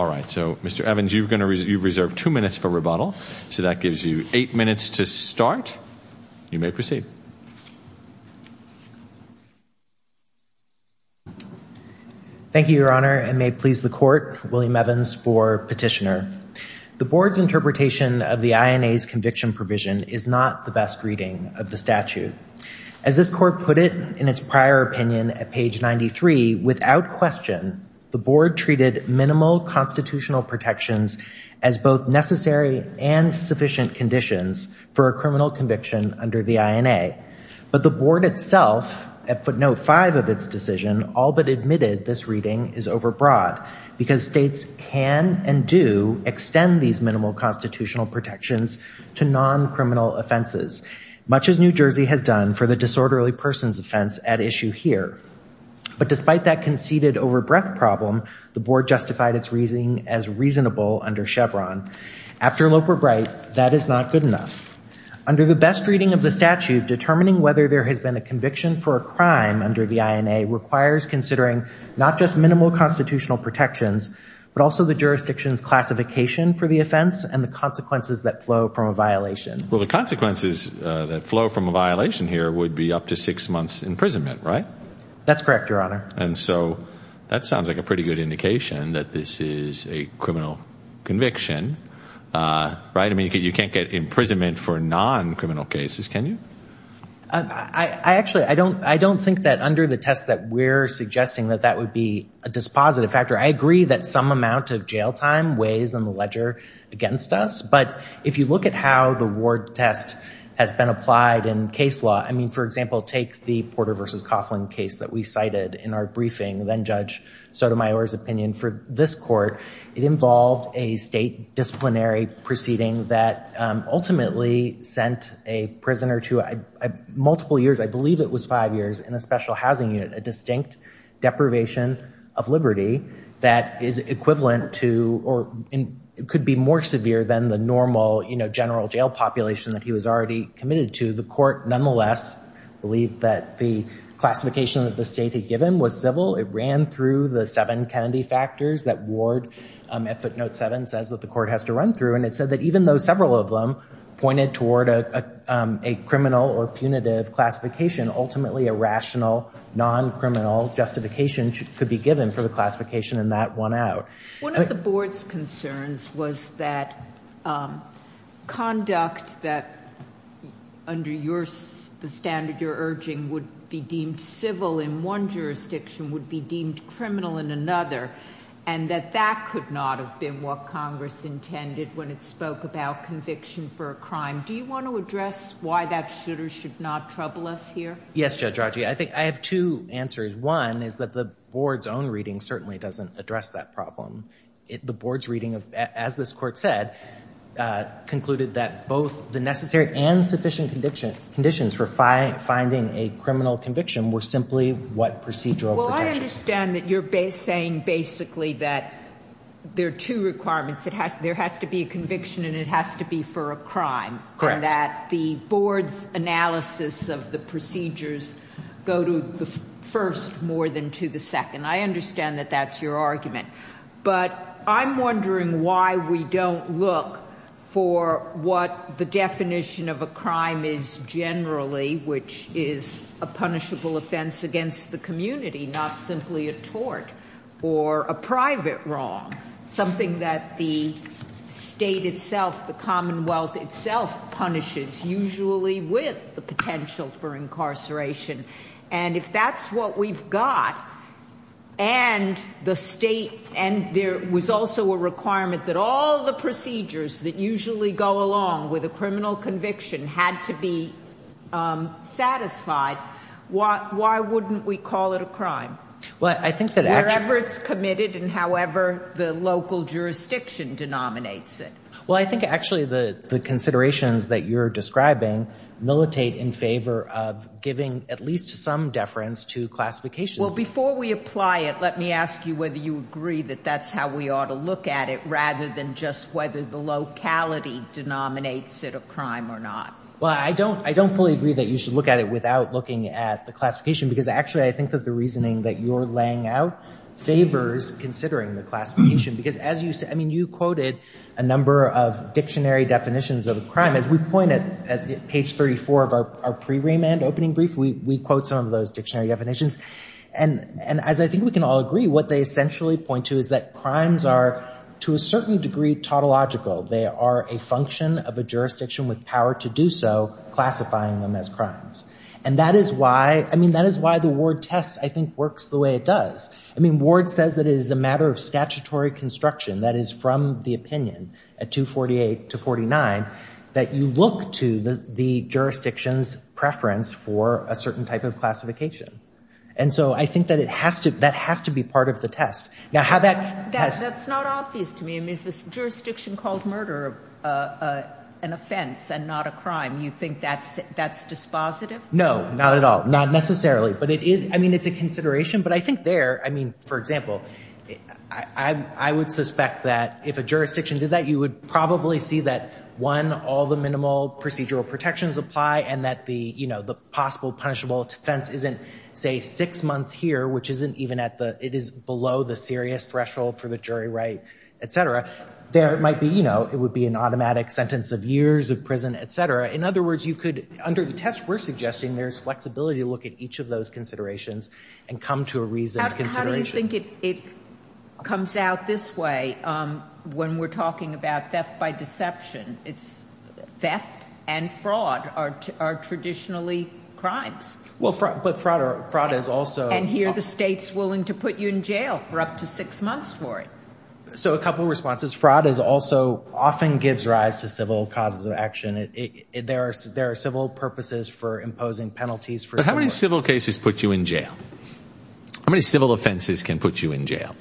All right, so Mr. Evans, you've reserved two minutes for rebuttal, so that gives you eight minutes to start. You may proceed. Thank you, Your Honor, and may it please the Court, William Evans for Petitioner. The Board's interpretation of the INA's conviction provision is not the best reading of the statute. As this Court put it in its prior opinion at page 93, without question, the Board treated minimal constitutional protections as both necessary and sufficient conditions for a criminal conviction under the INA. But the Board itself, at footnote five of its decision, all but admitted this reading is overbroad, because states can and do extend these minimal constitutional protections to non-criminal offenses, much as New Jersey has done for the disorderly persons offense at issue here. But despite that conceded overbreadth problem, the Board justified its reasoning as reasonable under Chevron. After Loper-Bright, that is not good enough. Under the best reading of the statute, determining whether there has been a conviction for a crime under the INA requires considering not just minimal constitutional protections, but also the jurisdiction's classification for the offense and the consequences that flow from a violation. Well, the consequences that flow from a violation here would be up to six months' imprisonment, right? That's correct, Your Honor. And so that sounds like a pretty good indication that this is a criminal conviction, right? I mean, you can't get imprisonment for non-criminal cases, can you? I actually, I don't think that under the test that we're suggesting that that would be a dispositive factor. I agree that some amount of jail time weighs on the ledger against us. But if you look at how the Ward test has been applied in case law, I mean, for example, take the Porter versus Coughlin case that we cited in our briefing, then Judge Sotomayor's opinion for this court, it involved a state disciplinary proceeding that ultimately sent a prisoner to multiple years, I believe it was five years, in a special housing unit, a distinct deprivation of liberty that is equivalent to or could be more severe than the normal, you know, general jail population that he was already committed to. The court nonetheless believed that the classification that the state had given was civil. It ran through the seven Kennedy factors that Ward at footnote seven says that the court has to run through. And it said that even though several of them pointed toward a criminal or punitive classification, ultimately a rational, non-criminal justification could be given for the classification in that one out. One of the board's concerns was that conduct that under the standard you're urging would be deemed civil in one jurisdiction would be deemed criminal in another. And that that could not have been what Congress intended when it spoke about conviction for a crime. Do you want to address why that should or should not trouble us here? Yes, Judge Rogge. I think I have two answers. One is that the board's own reading certainly doesn't address that problem. The board's reading, as this court said, concluded that both the necessary and sufficient conditions for finding a criminal conviction were simply what procedural protections. Well, I understand that you're saying basically that there are two requirements. There has to be a conviction and it has to be for a crime and that the board's analysis of the procedures go to the first more than to the second. I understand that that's your argument. But I'm wondering why we don't look for what the definition of a crime is generally, which is a punishable offense against the community, not simply a tort or a private wrong, something that the state itself, the Commonwealth itself punishes, usually with the potential for incarceration. And if that's what we've got and the state and there was also a requirement that all the procedures that usually go along with a criminal conviction had to be satisfied, why wouldn't we call it a crime? Well, I think that actually... Wherever it's committed and however the local jurisdiction denominates it. Well, I think actually the considerations that you're describing militate in favor of giving at least some deference to classifications. Well, before we apply it, let me ask you whether you agree that that's how we ought to look at it rather than just whether the locality denominates it a crime or not. Well, I don't fully agree that you should look at it without looking at the classification because actually I think that the reasoning that you're laying out favors considering the definitions of a crime. As we point at page 34 of our pre-remand opening brief, we quote some of those dictionary definitions. And as I think we can all agree, what they essentially point to is that crimes are to a certain degree tautological. They are a function of a jurisdiction with power to do so, classifying them as crimes. And that is why the Ward test, I think, works the way it does. I mean, Ward says that it is a matter of statutory construction that is from the opinion at 248 to 49 that you look to the jurisdiction's preference for a certain type of classification. And so I think that has to be part of the test. That's not obvious to me. I mean, if a jurisdiction called murder an offense and not a crime, you think that's dispositive? No, not at all. Not necessarily. I mean, it's a consideration. But I think there, I mean, for example, I would suspect that if a jurisdiction did that, you would probably see that, one, all the minimal procedural protections apply and that the possible punishable offense isn't, say, six months here, which isn't even at the, it is below the serious threshold for the jury right, et cetera. There might be, you know, it would be an automatic sentence of years of prison, et cetera. In other words, you could, under the test we're suggesting, there's flexibility to look at each of those considerations and come to a reasoned consideration. How do you think it comes out this way when we're talking about theft by deception? It's theft and fraud are traditionally crimes. Well, but fraud is also And here the state's willing to put you in jail for up to six months for it. So a couple of responses. Fraud is also, often gives rise to civil causes of action. There are civil purposes for imposing penalties. But how many civil cases put you in jail? How many civil offenses can put you in jail?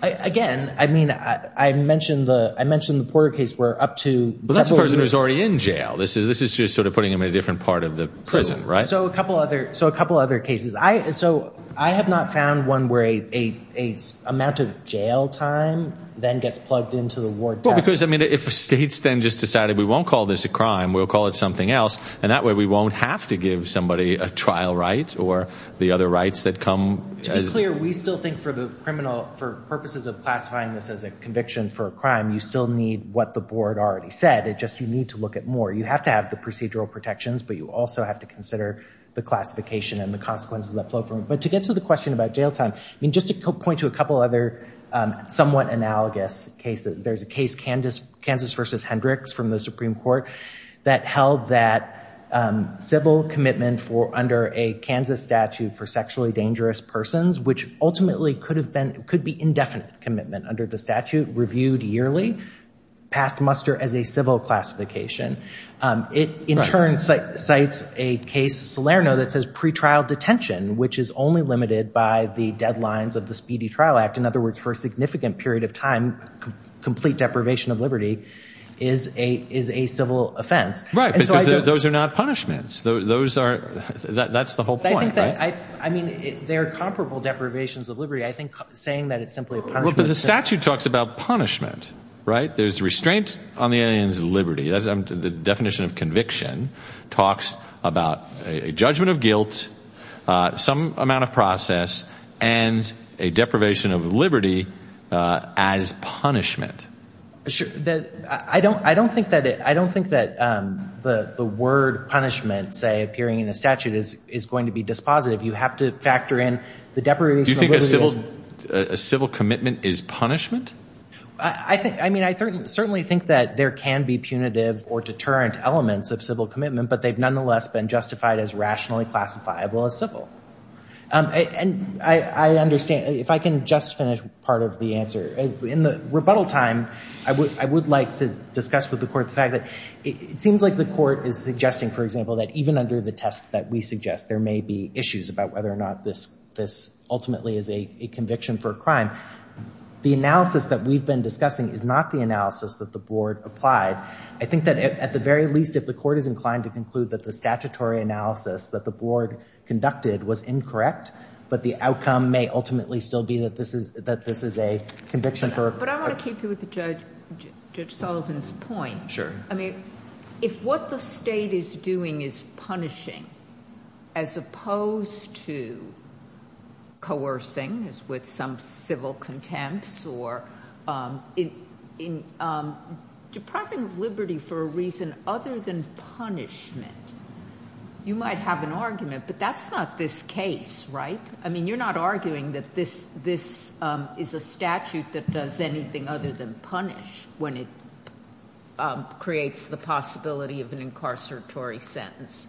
Again, I mean, I mentioned the Porter case where up to But that's a person who's already in jail. This is just sort of putting them in a different part of the prison, right? So a couple other cases. So I have not found one where an amount of jail time then gets plugged into the ward test. Because, I mean, if states then just decided we won't call this a crime, we'll call it something else. And that way we won't have to give somebody a trial right or the other rights that come. To be clear, we still think for the criminal, for purposes of classifying this as a conviction for a crime, you still need what the board already said. It's just you need to look at more. You have to have the procedural protections, but you also have to consider the classification and the consequences that flow from it. But to get to the question about jail time, I mean, just to point to a couple other somewhat analogous cases. There's a case, Kansas v. Hendricks from the Supreme Court, that held that civil commitment under a Kansas statute for sexually dangerous persons, which ultimately could be indefinite commitment under the statute, reviewed yearly, passed muster as a civil classification. It in turn cites a case, Salerno, that says pretrial detention, which is only limited by the deadlines of the Speedy Trial Act. In other words, for a significant period of time, complete deprivation of liberty is a civil offense. Right, but those are not punishments. Those are – that's the whole point, right? I mean, they're comparable deprivations of liberty. I think saying that it's simply a punishment – But the statute talks about punishment, right? There's restraint on the alien's liberty. The definition of conviction talks about a judgment of guilt, some amount of process, and a deprivation of liberty as punishment. I don't think that the word punishment, say, appearing in the statute, is going to be dispositive. You have to factor in the deprivation of liberty. A civil commitment is punishment? I mean, I certainly think that there can be punitive or deterrent elements of civil commitment, but they've nonetheless been justified as rationally classifiable as civil. And I understand – if I can just finish part of the answer. In the rebuttal time, I would like to discuss with the court the fact that it seems like the court is suggesting, for example, that even under the test that we suggest, there may be issues about whether or not this ultimately is a conviction for a crime. The analysis that we've been discussing is not the analysis that the board applied. I think that at the very least, if the court is inclined to conclude that the statutory analysis that the board conducted was incorrect, but the outcome may ultimately still be that this is a conviction for – But I want to keep you with Judge Sullivan's point. Sure. I mean, if what the state is doing is punishing as opposed to coercing, as with some civil contempt, or depriving of liberty for a reason other than punishment, you might have an argument. But that's not this case, right? I mean, you're not arguing that this is a statute that does anything other than punish when it creates the possibility of an incarceratory sentence.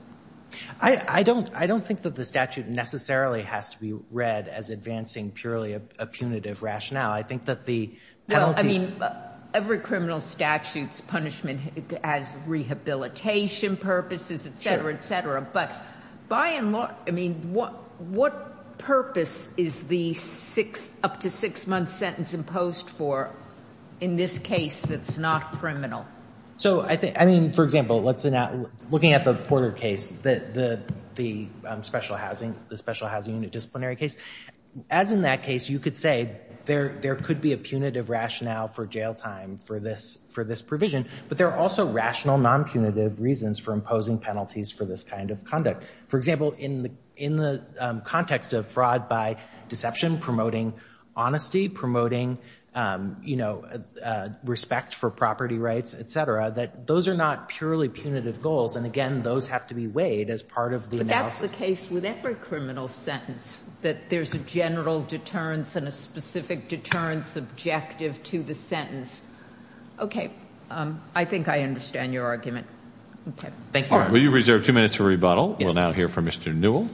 I don't think that the statute necessarily has to be read as advancing purely a punitive rationale. I think that the penalty – Well, I mean, every criminal statute's punishment has rehabilitation purposes, et cetera, et cetera. But by and large – I mean, what purpose is the up to six-month sentence imposed for in this case that's not criminal? So, I mean, for example, looking at the Porter case, the special housing unit disciplinary case, as in that case, you could say there could be a punitive rationale for jail time for this provision, but there are also rational, non-punitive reasons for imposing penalties for this kind of conduct. For example, in the context of fraud by deception, promoting honesty, promoting respect for property rights, et cetera, that those are not purely punitive goals, and again, those have to be weighed as part of the analysis. But that's the case with every criminal sentence, that there's a general deterrence and a specific deterrence objective to the sentence. Okay. I think I understand your argument. Okay. Thank you. All right. Will you reserve two minutes for rebuttal? Yes. We'll now hear from Mr. Newell.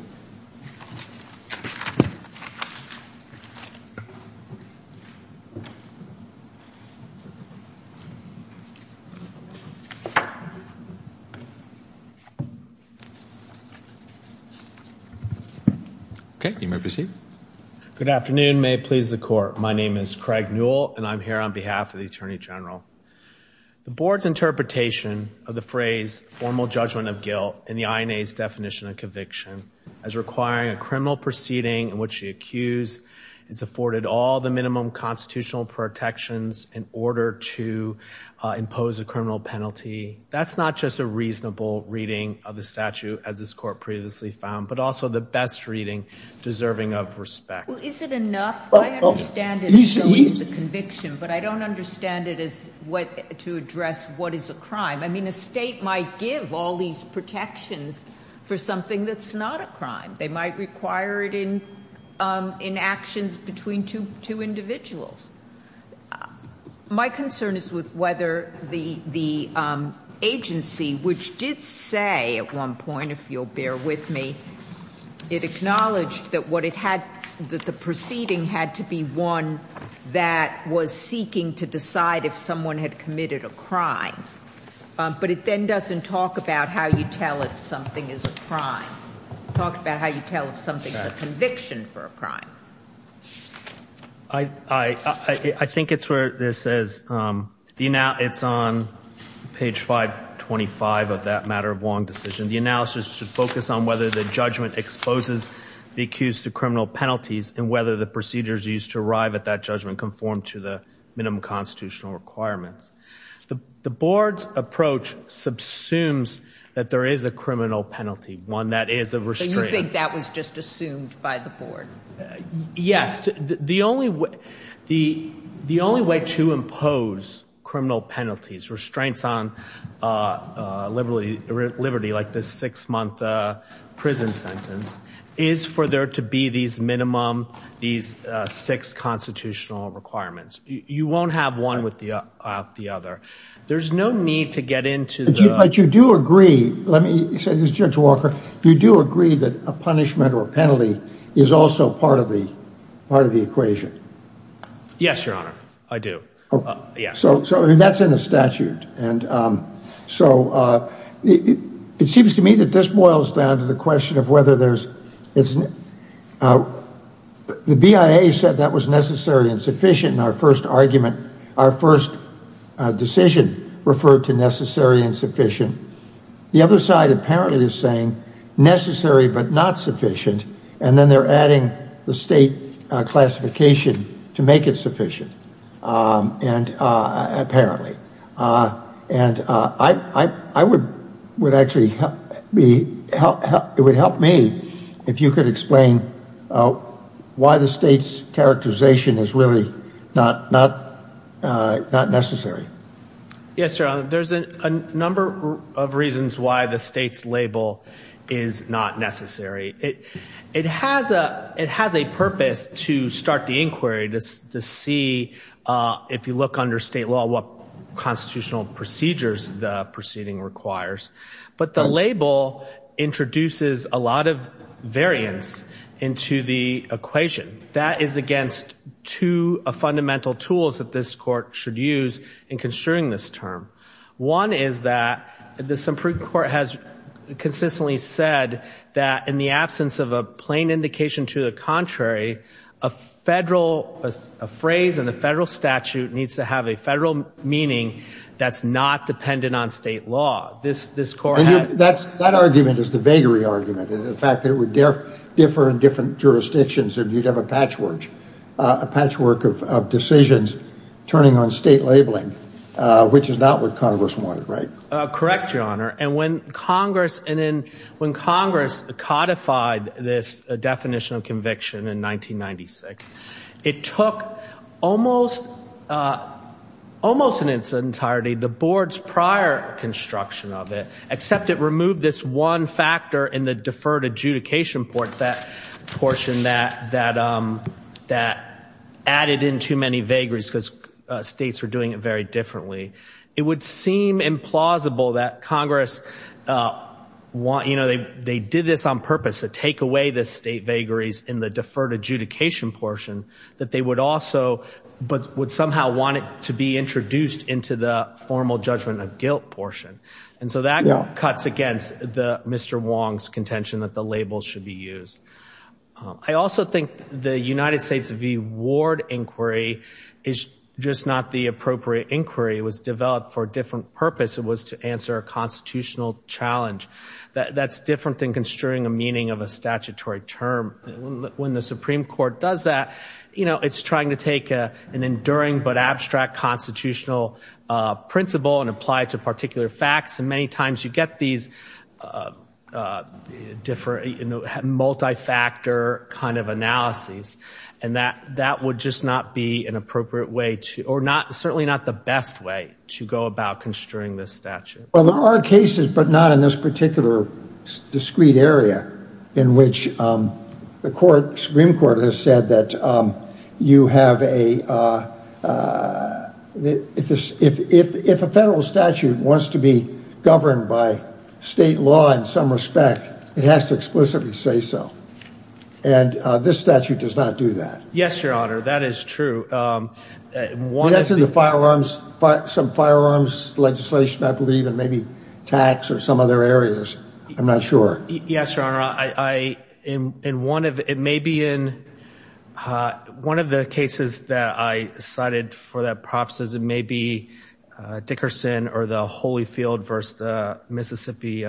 Okay. You may proceed. Good afternoon. May it please the Court. My name is Craig Newell, and I'm here on behalf of the Attorney General. The Board's interpretation of the phrase formal judgment of guilt in the INA's definition of conviction as requiring a criminal proceeding in which the accused has afforded all the minimum constitutional protections in order to impose a criminal penalty, that's not just a reasonable reading of the statute, as this Court previously found, but also the best reading deserving of respect. Well, is it enough? I understand it as a conviction, but I don't understand it as to address what is a crime. I mean, a state might give all these protections for something that's not a crime. They might require it in actions between two individuals. My concern is with whether the agency, which did say at one point, if you'll bear with me, it acknowledged that the proceeding had to be one that was seeking to decide if someone had committed a crime, but it then doesn't talk about how you tell if something is a crime. It talks about how you tell if something is a conviction for a crime. I think it's where it says, it's on page 525 of that matter of long decision. The analysis should focus on whether the judgment exposes the accused to criminal penalties and whether the procedures used to arrive at that judgment conform to the minimum constitutional requirements. The Board's approach subsumes that there is a criminal penalty, one that is a restraint. But you think that was just assumed by the Board? Yes. The only way to impose criminal penalties, restraints on liberty, like this six-month prison sentence, is for there to be these minimum, these six constitutional requirements. You won't have one without the other. There's no need to get into the – But you do agree, Judge Walker, you do agree that a punishment or penalty is also part of the equation? Yes, Your Honor, I do. So that's in the statute. So it seems to me that this boils down to the question of whether there's – The BIA said that was necessary and sufficient in our first argument. Our first decision referred to necessary and sufficient. The other side apparently is saying necessary but not sufficient, and then they're adding the state classification to make it sufficient, apparently. And I would actually – it would help me if you could explain why the state's characterization is really not necessary. Yes, Your Honor, there's a number of reasons why the state's label is not necessary. It has a purpose to start the inquiry to see, if you look under state law, what constitutional procedures the proceeding requires. But the label introduces a lot of variance into the equation. That is against two fundamental tools that this court should use in construing this term. One is that this Supreme Court has consistently said that in the absence of a plain indication to the contrary, a federal – a phrase in the federal statute needs to have a federal meaning that's not dependent on state law. This court had – That argument is the vagary argument. In fact, it would differ in different jurisdictions if you'd have a patchwork of decisions turning on state labeling, which is not what Congress wanted, right? Correct, Your Honor. And when Congress – and then when Congress codified this definition of conviction in 1996, it took almost in its entirety the board's prior construction of it, except it removed this one factor in the deferred adjudication portion that added in too many vagaries because states were doing it very differently. It would seem implausible that Congress – they did this on purpose to take away the state vagaries in the deferred adjudication portion that they would also – but would somehow want it to be introduced into the formal judgment of guilt portion. And so that cuts against Mr. Wong's contention that the label should be used. I also think the United States v. Ward inquiry is just not the appropriate inquiry. It was developed for a different purpose. It was to answer a constitutional challenge. That's different than construing a meaning of a statutory term. When the Supreme Court does that, you know, it's trying to take an enduring but abstract constitutional principle and apply it to particular facts. And many times you get these multi-factor kind of analyses, and that would just not be an appropriate way to – or certainly not the best way to go about construing this statute. Well, there are cases, but not in this particular discrete area, in which the Supreme Court has said that you have a – if a federal statute wants to be governed by state law in some respect, it has to explicitly say so. And this statute does not do that. Yes, Your Honor. That is true. One of the firearms – some firearms legislation, I believe, and maybe tax or some other areas. I'm not sure. Yes, Your Honor. I – in one of – it may be in – one of the cases that I cited for that process, it may be Dickerson or the Holyfield versus the Mississippi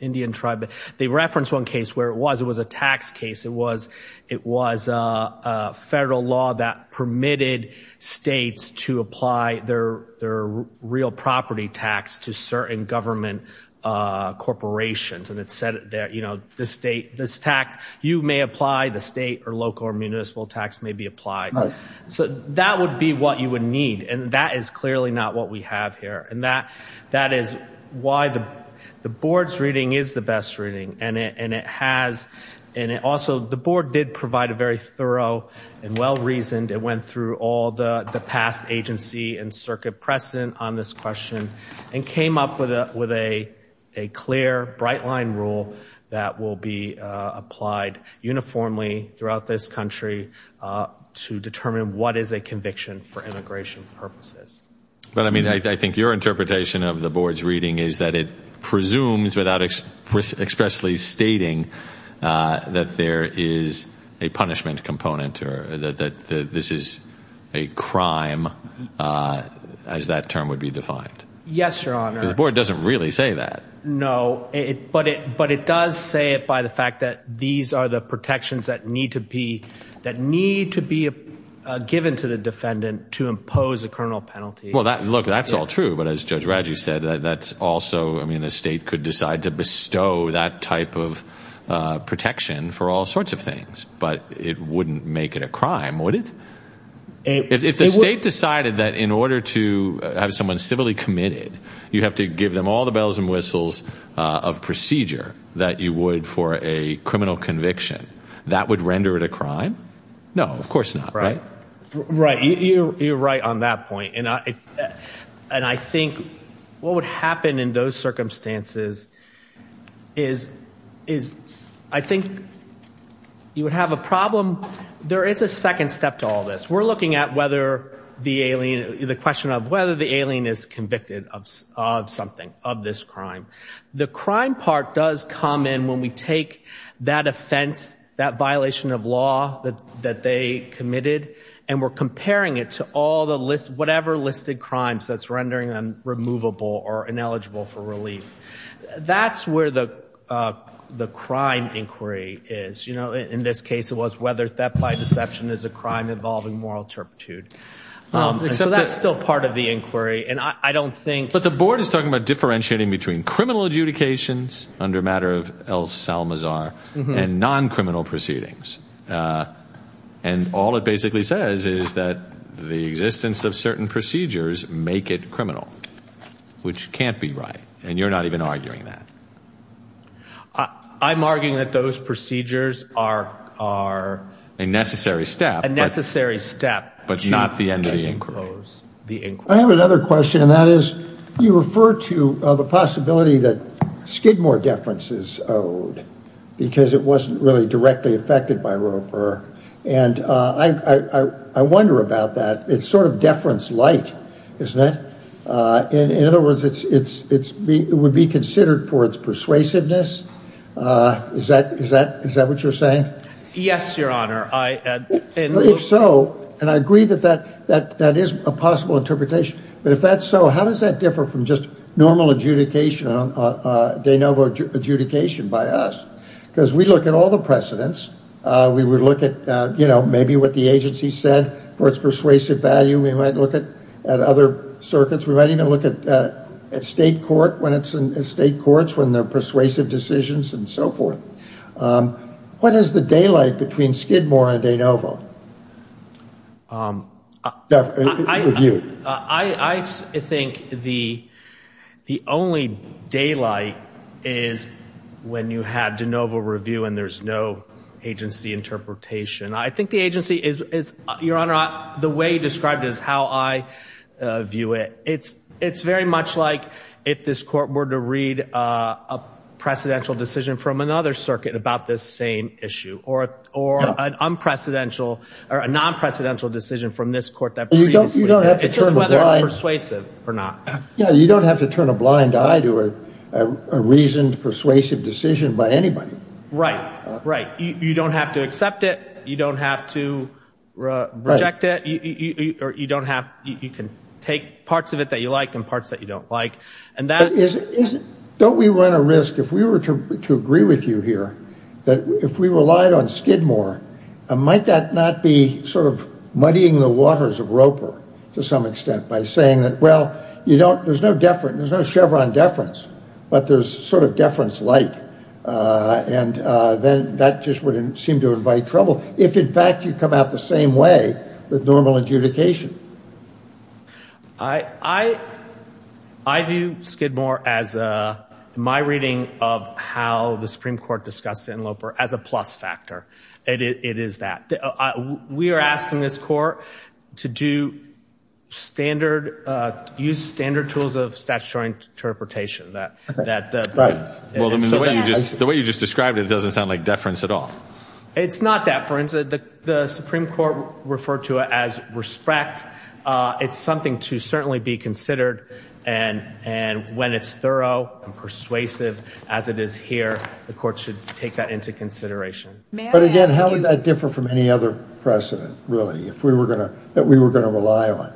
Indian tribe. They referenced one case where it was. It was a tax case. It was a federal law that permitted states to apply their real property tax to certain government corporations. And it said that, you know, the state – this tax you may apply, the state or local or municipal tax may be applied. So that would be what you would need, and that is clearly not what we have here. And that is why the board's reading is the best reading, and it has – and it also – the board did provide a very thorough and well-reasoned – that will be applied uniformly throughout this country to determine what is a conviction for immigration purposes. But, I mean, I think your interpretation of the board's reading is that it presumes, without expressly stating, that there is a punishment component or that this is a crime as that term would be defined. Yes, Your Honor. Because the board doesn't really say that. No. But it does say it by the fact that these are the protections that need to be – that need to be given to the defendant to impose a criminal penalty. Well, look, that's all true. But as Judge Radji said, that's also – I mean, the state could decide to bestow that type of protection for all sorts of things. But it wouldn't make it a crime, would it? If the state decided that in order to have someone civilly committed, you have to give them all the bells and whistles of procedure that you would for a criminal conviction, that would render it a crime? No, of course not, right? Right. You're right on that point. And I think what would happen in those circumstances is I think you would have a problem – there is a second step to all this. We're looking at whether the alien – the question of whether the alien is convicted of something, of this crime. The crime part does come in when we take that offense, that violation of law that they committed, and we're comparing it to all the – whatever listed crimes that's rendering them removable or ineligible for relief. That's where the crime inquiry is. In this case, it was whether theft by deception is a crime involving moral turpitude. So that's still part of the inquiry. And I don't think – The court is talking about differentiating between criminal adjudications under matter of El Salmazar and non-criminal proceedings. And all it basically says is that the existence of certain procedures make it criminal, which can't be right. And you're not even arguing that. I'm arguing that those procedures are – A necessary step. A necessary step. But not the end of the inquiry. I have another question, and that is you refer to the possibility that Skidmore deference is owed because it wasn't really directly affected by Roper. And I wonder about that. It's sort of deference light, isn't it? In other words, it would be considered for its persuasiveness. Is that what you're saying? Yes, Your Honor. If so, and I agree that that is a possible interpretation. But if that's so, how does that differ from just normal adjudication, de novo adjudication by us? Because we look at all the precedents. We would look at maybe what the agency said for its persuasive value. We might look at other circuits. We might even look at state court when it's in state courts when there are persuasive decisions and so forth. What is the daylight between Skidmore and de novo? I think the only daylight is when you have de novo review and there's no agency interpretation. I think the agency is, Your Honor, the way you described it is how I view it. It's very much like if this court were to read a precedential decision from another circuit about this same issue or an unprecedented or a non-precedential decision from this court that previously. It's just whether it's persuasive or not. You don't have to turn a blind eye to a reasoned persuasive decision by anybody. Right, right. You don't have to accept it. You don't have to reject it. You can take parts of it that you like and parts that you don't like. Don't we run a risk, if we were to agree with you here, that if we relied on Skidmore, might that not be sort of muddying the waters of Roper to some extent by saying that, well, there's no Chevron deference, but there's sort of deference light. And then that just wouldn't seem to invite trouble if, in fact, you come out the same way with normal adjudication. I, I, I view Skidmore as my reading of how the Supreme Court discussed in Loper as a plus factor. It is that we are asking this court to do standard use standard tools of statutory interpretation that that. Well, I mean, the way you just the way you just described it doesn't sound like deference at all. It's not that the Supreme Court referred to it as respect. It's something to certainly be considered. And and when it's thorough and persuasive as it is here, the court should take that into consideration. But again, how would that differ from any other precedent, really, if we were going to that we were going to rely on?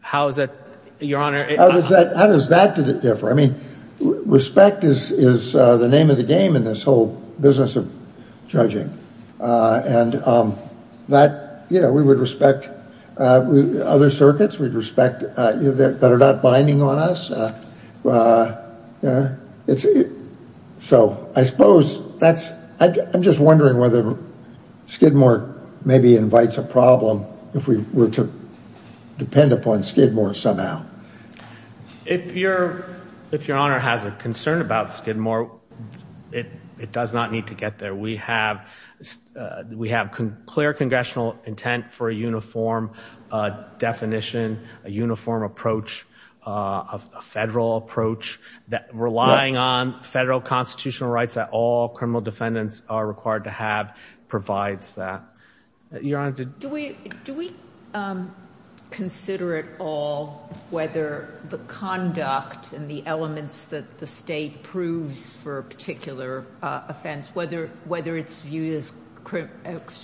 How is that your honor? How does that differ? I mean, respect is is the name of the game in this whole business of judging. And that, you know, we would respect other circuits. We'd respect that are not binding on us. It's so I suppose that's I'm just wondering whether Skidmore maybe invites a problem if we were to depend upon Skidmore somehow. If you're if your honor has a concern about Skidmore, it does not need to get there. We have we have clear congressional intent for a uniform definition, a uniform approach, a federal approach that relying on federal constitutional rights that all criminal defendants are required to have provides that. Your Honor, do we do we consider it all, whether the conduct and the elements that the state proves for a particular offense, whether whether it's viewed as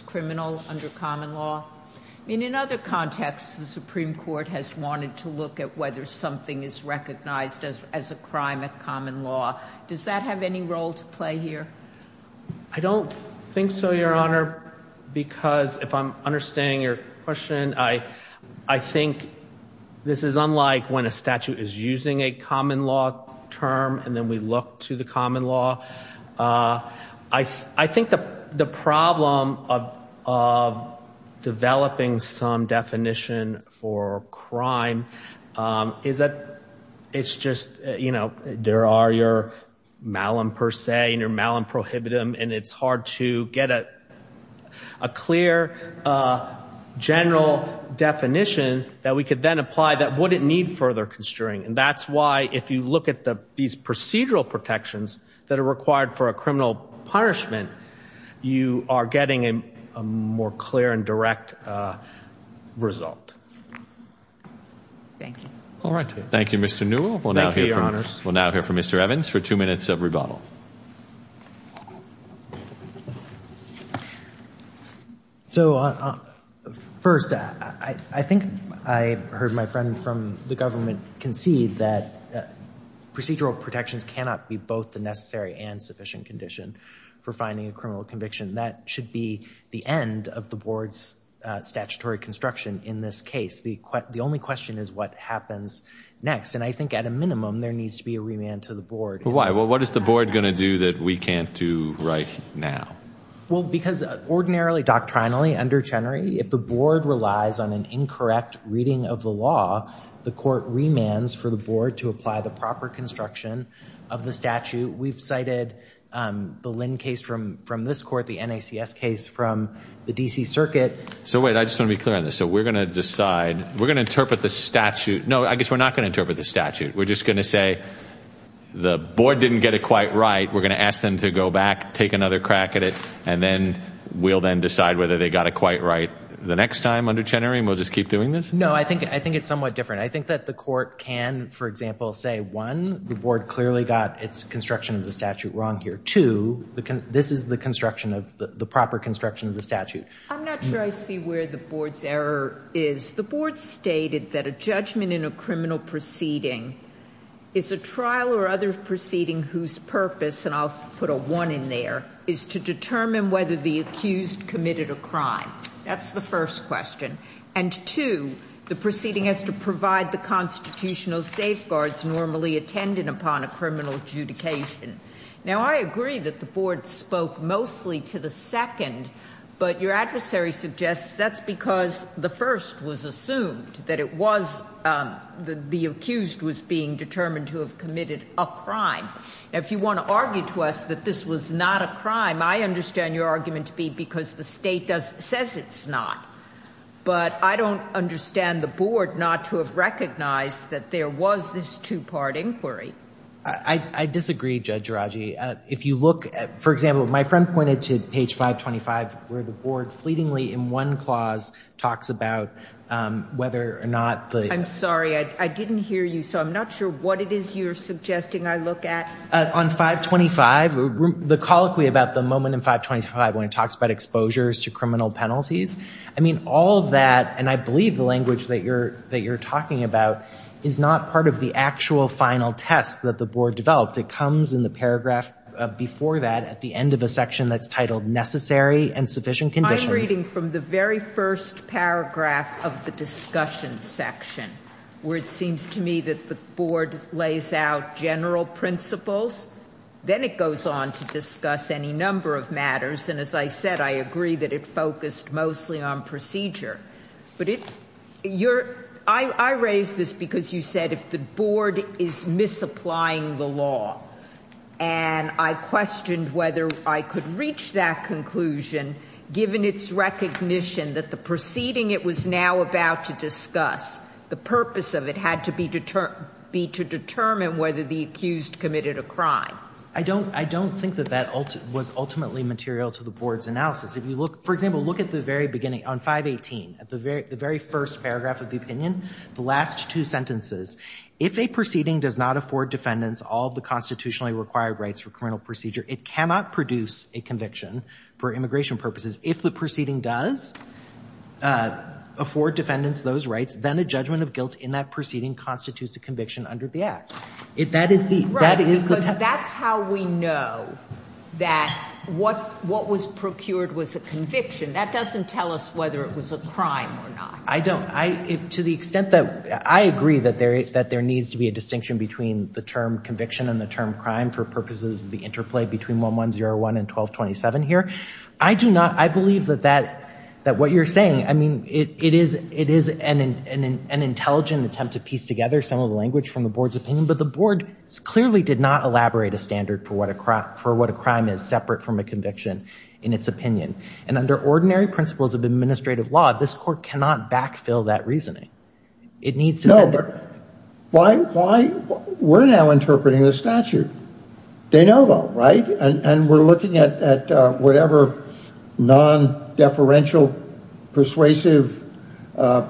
criminal under common law. I mean, in other contexts, the Supreme Court has wanted to look at whether something is recognized as as a crime of common law. Does that have any role to play here? I don't think so, Your Honor, because if I'm understanding your question, I I think this is unlike when a statute is using a common law term and then we look to the common law. I think the problem of developing some definition for crime is that it's just, you know, there are your malum per se and your malum prohibitive. And it's hard to get a clear general definition that we could then apply that wouldn't need further constraint. And that's why if you look at these procedural protections that are required for a criminal punishment, you are getting a more clear and direct result. Thank you. All right. Thank you, Mr. Newell. We'll now hear from Mr. Evans for two minutes of rebuttal. So, first, I think I heard my friend from the government concede that procedural protections cannot be both the necessary and sufficient condition for finding a criminal conviction. That should be the end of the board's statutory construction in this case. The only question is what happens next. And I think at a minimum, there needs to be a remand to the board. Why? Well, what is the board going to do that we can't do right now? Well, because ordinarily, doctrinally, under Chenery, if the board relies on an incorrect reading of the law, the court remands for the board to apply the proper construction of the statute. We've cited the Lynn case from this court, the NACS case from the D.C. Circuit. So, wait, I just want to be clear on this. So, we're going to decide, we're going to interpret the statute. No, I guess we're not going to interpret the statute. We're just going to say the board didn't get it quite right. We're going to ask them to go back, take another crack at it, and then we'll then decide whether they got it quite right the next time under Chenery, and we'll just keep doing this? No, I think it's somewhat different. I think that the court can, for example, say, one, the board clearly got its construction of the statute wrong here. Two, this is the construction of the proper construction of the statute. I'm not sure I see where the board's error is. The board stated that a judgment in a criminal proceeding is a trial or other proceeding whose purpose, and I'll put a one in there, is to determine whether the accused committed a crime. That's the first question. And two, the proceeding has to provide the constitutional safeguards normally attended upon a criminal adjudication. Now, I agree that the board spoke mostly to the second, but your adversary suggests that's because the first was assumed, that it was the accused was being determined to have committed a crime. Now, if you want to argue to us that this was not a crime, I understand your argument to be because the state says it's not. But I don't understand the board not to have recognized that there was this two-part inquiry. I disagree, Judge Aragi. If you look at, for example, my friend pointed to page 525, where the board fleetingly in one clause talks about whether or not the- I'm sorry, I didn't hear you, so I'm not sure what it is you're suggesting I look at. On 525, the colloquy about the moment in 525 when it talks about exposures to criminal penalties, I mean, all of that, and I believe the language that you're talking about, is not part of the actual final test that the board developed. It comes in the paragraph before that at the end of a section that's titled necessary and sufficient conditions. I'm reading from the very first paragraph of the discussion section, where it seems to me that the board lays out general principles. Then it goes on to discuss any number of matters. And as I said, I agree that it focused mostly on procedure. I raise this because you said if the board is misapplying the law, and I questioned whether I could reach that conclusion, given its recognition that the proceeding it was now about to discuss, the purpose of it had to be to determine whether the accused committed a crime. I don't think that that was ultimately material to the board's analysis. If you look, for example, look at the very beginning on 518, at the very first paragraph of the opinion, the last two sentences. If a proceeding does not afford defendants all of the constitutionally required rights for criminal procedure, it cannot produce a conviction for immigration purposes. If the proceeding does afford defendants those rights, then a judgment of guilt in that proceeding constitutes a conviction under the act. Right, because that's how we know that what was procured was a conviction. That doesn't tell us whether it was a crime or not. I don't. To the extent that I agree that there needs to be a distinction between the term conviction and the term crime for purposes of the interplay between 1101 and 1227 here, I believe that what you're saying, I mean, it is an intelligent attempt to piece together some of the language from the board's opinion, but the board clearly did not elaborate a standard for what a crime is separate from a conviction in its opinion. And under ordinary principles of administrative law, this court cannot backfill that reasoning. No. Why? We're now interpreting the statute, de novo, right? And we're looking at whatever non-deferential persuasive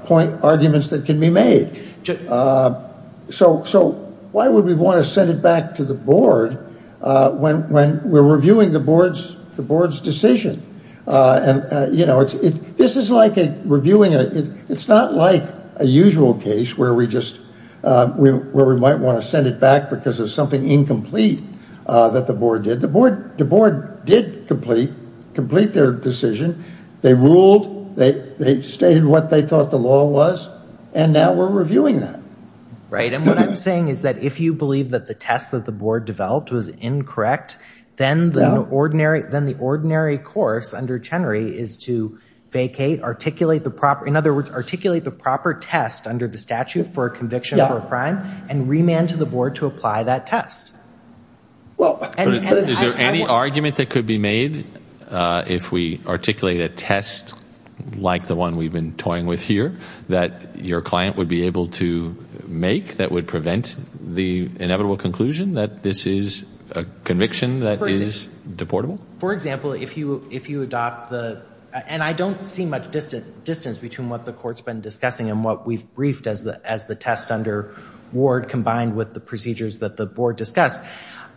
point arguments that can be made. So why would we want to send it back to the board when we're reviewing the board's decision? You know, this is like reviewing a, it's not like a usual case where we just, where we might want to send it back because of something incomplete that the board did. The board did complete their decision. They ruled. They stated what they thought the law was. And now we're reviewing that. Right. And what I'm saying is that if you believe that the test that the board developed was incorrect, then the ordinary course under Chenery is to vacate, articulate the proper, in other words, articulate the proper test under the statute for a conviction for a crime and remand to the board to apply that test. Is there any argument that could be made if we articulate a test like the one we've been toying with here that your client would be able to make that would prevent the inevitable conclusion that this is a conviction that is deportable? For example, if you adopt the, and I don't see much distance between what the court's been discussing and what we've briefed as the test under Ward combined with the procedures that the board discussed,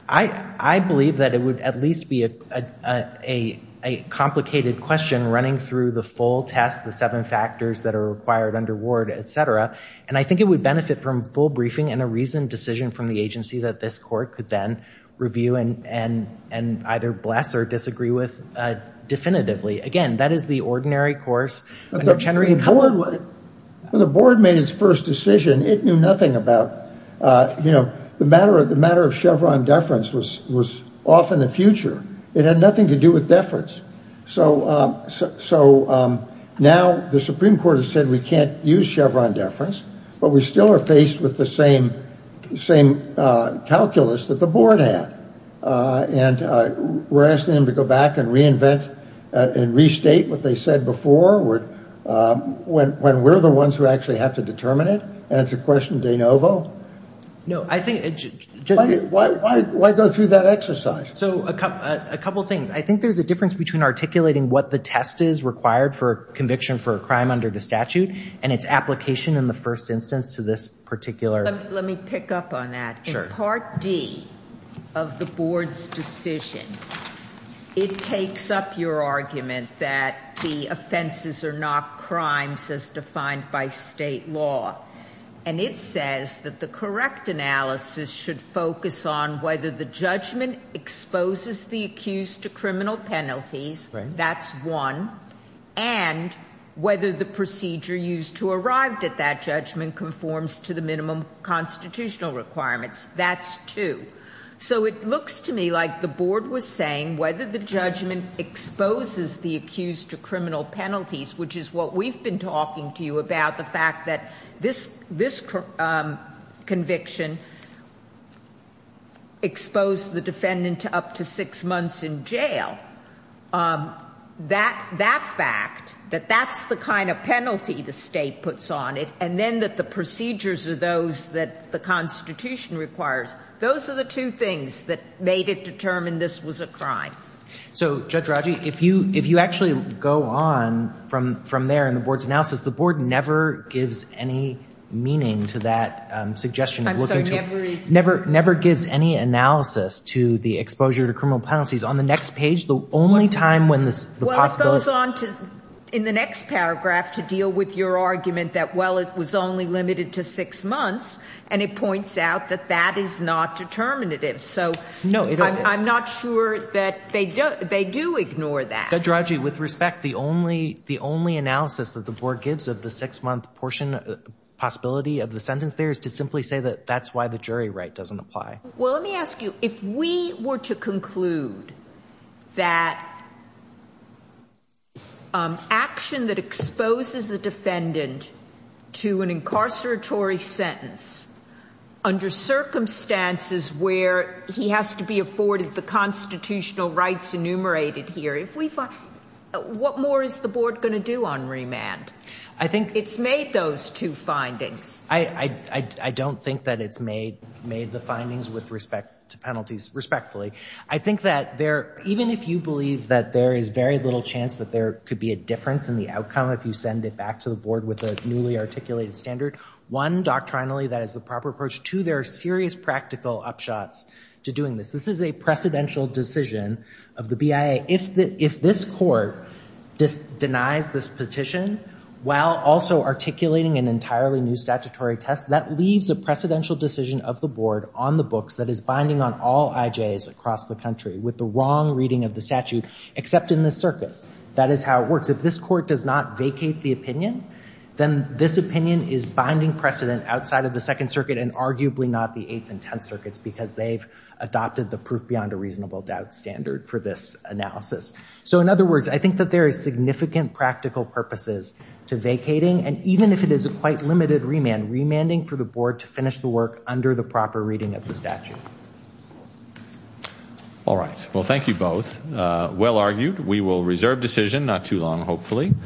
I believe that it would at least be a complicated question running through the full test, the seven factors that are required under Ward, et cetera. And I think it would benefit from full briefing and a reasoned decision from the agency that this court could then review and either bless or disagree with definitively. Again, that is the ordinary course under Chenery. The board made its first decision. It knew nothing about, you know, the matter of Chevron deference was off in the future. It had nothing to do with deference. So now the Supreme Court has said we can't use Chevron deference, but we still are faced with the same calculus that the board had. And we're asking them to go back and reinvent and restate what they said before when we're the ones who actually have to determine it. And it's a question de novo. No, I think it's just. Why go through that exercise? So a couple things. I think there's a difference between articulating what the test is required for conviction for a crime under the statute and its application in the first instance to this particular. Let me pick up on that. Sure. Part D of the board's decision, it takes up your argument that the offenses are not crimes as defined by state law. And it says that the correct analysis should focus on whether the judgment exposes the accused to criminal penalties. That's one. And whether the procedure used to arrive at that judgment conforms to the minimum constitutional requirements. That's two. So it looks to me like the board was saying whether the judgment exposes the accused to criminal penalties, which is what we've been talking to you about, the fact that this conviction exposed the defendant to up to six months in jail. That fact, that that's the kind of penalty the state puts on it, and then that the procedures are those that the Constitution requires, those are the two things that made it determine this was a crime. So, Judge Raji, if you actually go on from there in the board's analysis, the board never gives any meaning to that suggestion. I'm sorry, never is? Never gives any analysis to the exposure to criminal penalties. On the next page, the only time when the possibility... Well, it goes on in the next paragraph to deal with your argument that, well, it was only limited to six months, and it points out that that is not determinative. So I'm not sure that they do ignore that. Judge Raji, with respect, the only analysis that the board gives of the six-month portion possibility of the sentence there is to simply say that that's why the jury right doesn't apply. Well, let me ask you. If we were to conclude that action that exposes a defendant to an incarceratory sentence under circumstances where he has to be afforded the constitutional rights enumerated here, what more is the board going to do on remand? I think... It's made those two findings. I don't think that it's made the findings with respect to penalties, respectfully. I think that even if you believe that there is very little chance that there could be a difference in the outcome if you send it back to the board with a newly articulated standard, one, doctrinally, that is the proper approach. Two, there are serious practical upshots to doing this. This is a precedential decision of the BIA. If this court denies this petition while also articulating an entirely new statutory test, that leaves a precedential decision of the board on the books that is binding on all IJs across the country with the wrong reading of the statute except in this circuit. That is how it works. If this court does not vacate the opinion, then this opinion is binding precedent outside of the Second Circuit and arguably not the Eighth and Tenth Circuits because they've adopted the proof beyond a reasonable doubt standard for this analysis. So in other words, I think that there is significant practical purposes to vacating and even if it is a quite limited remand, remanding for the board to finish the work under the proper reading of the statute. All right. Well, thank you both. Well argued. We will reserve decision not too long, hopefully.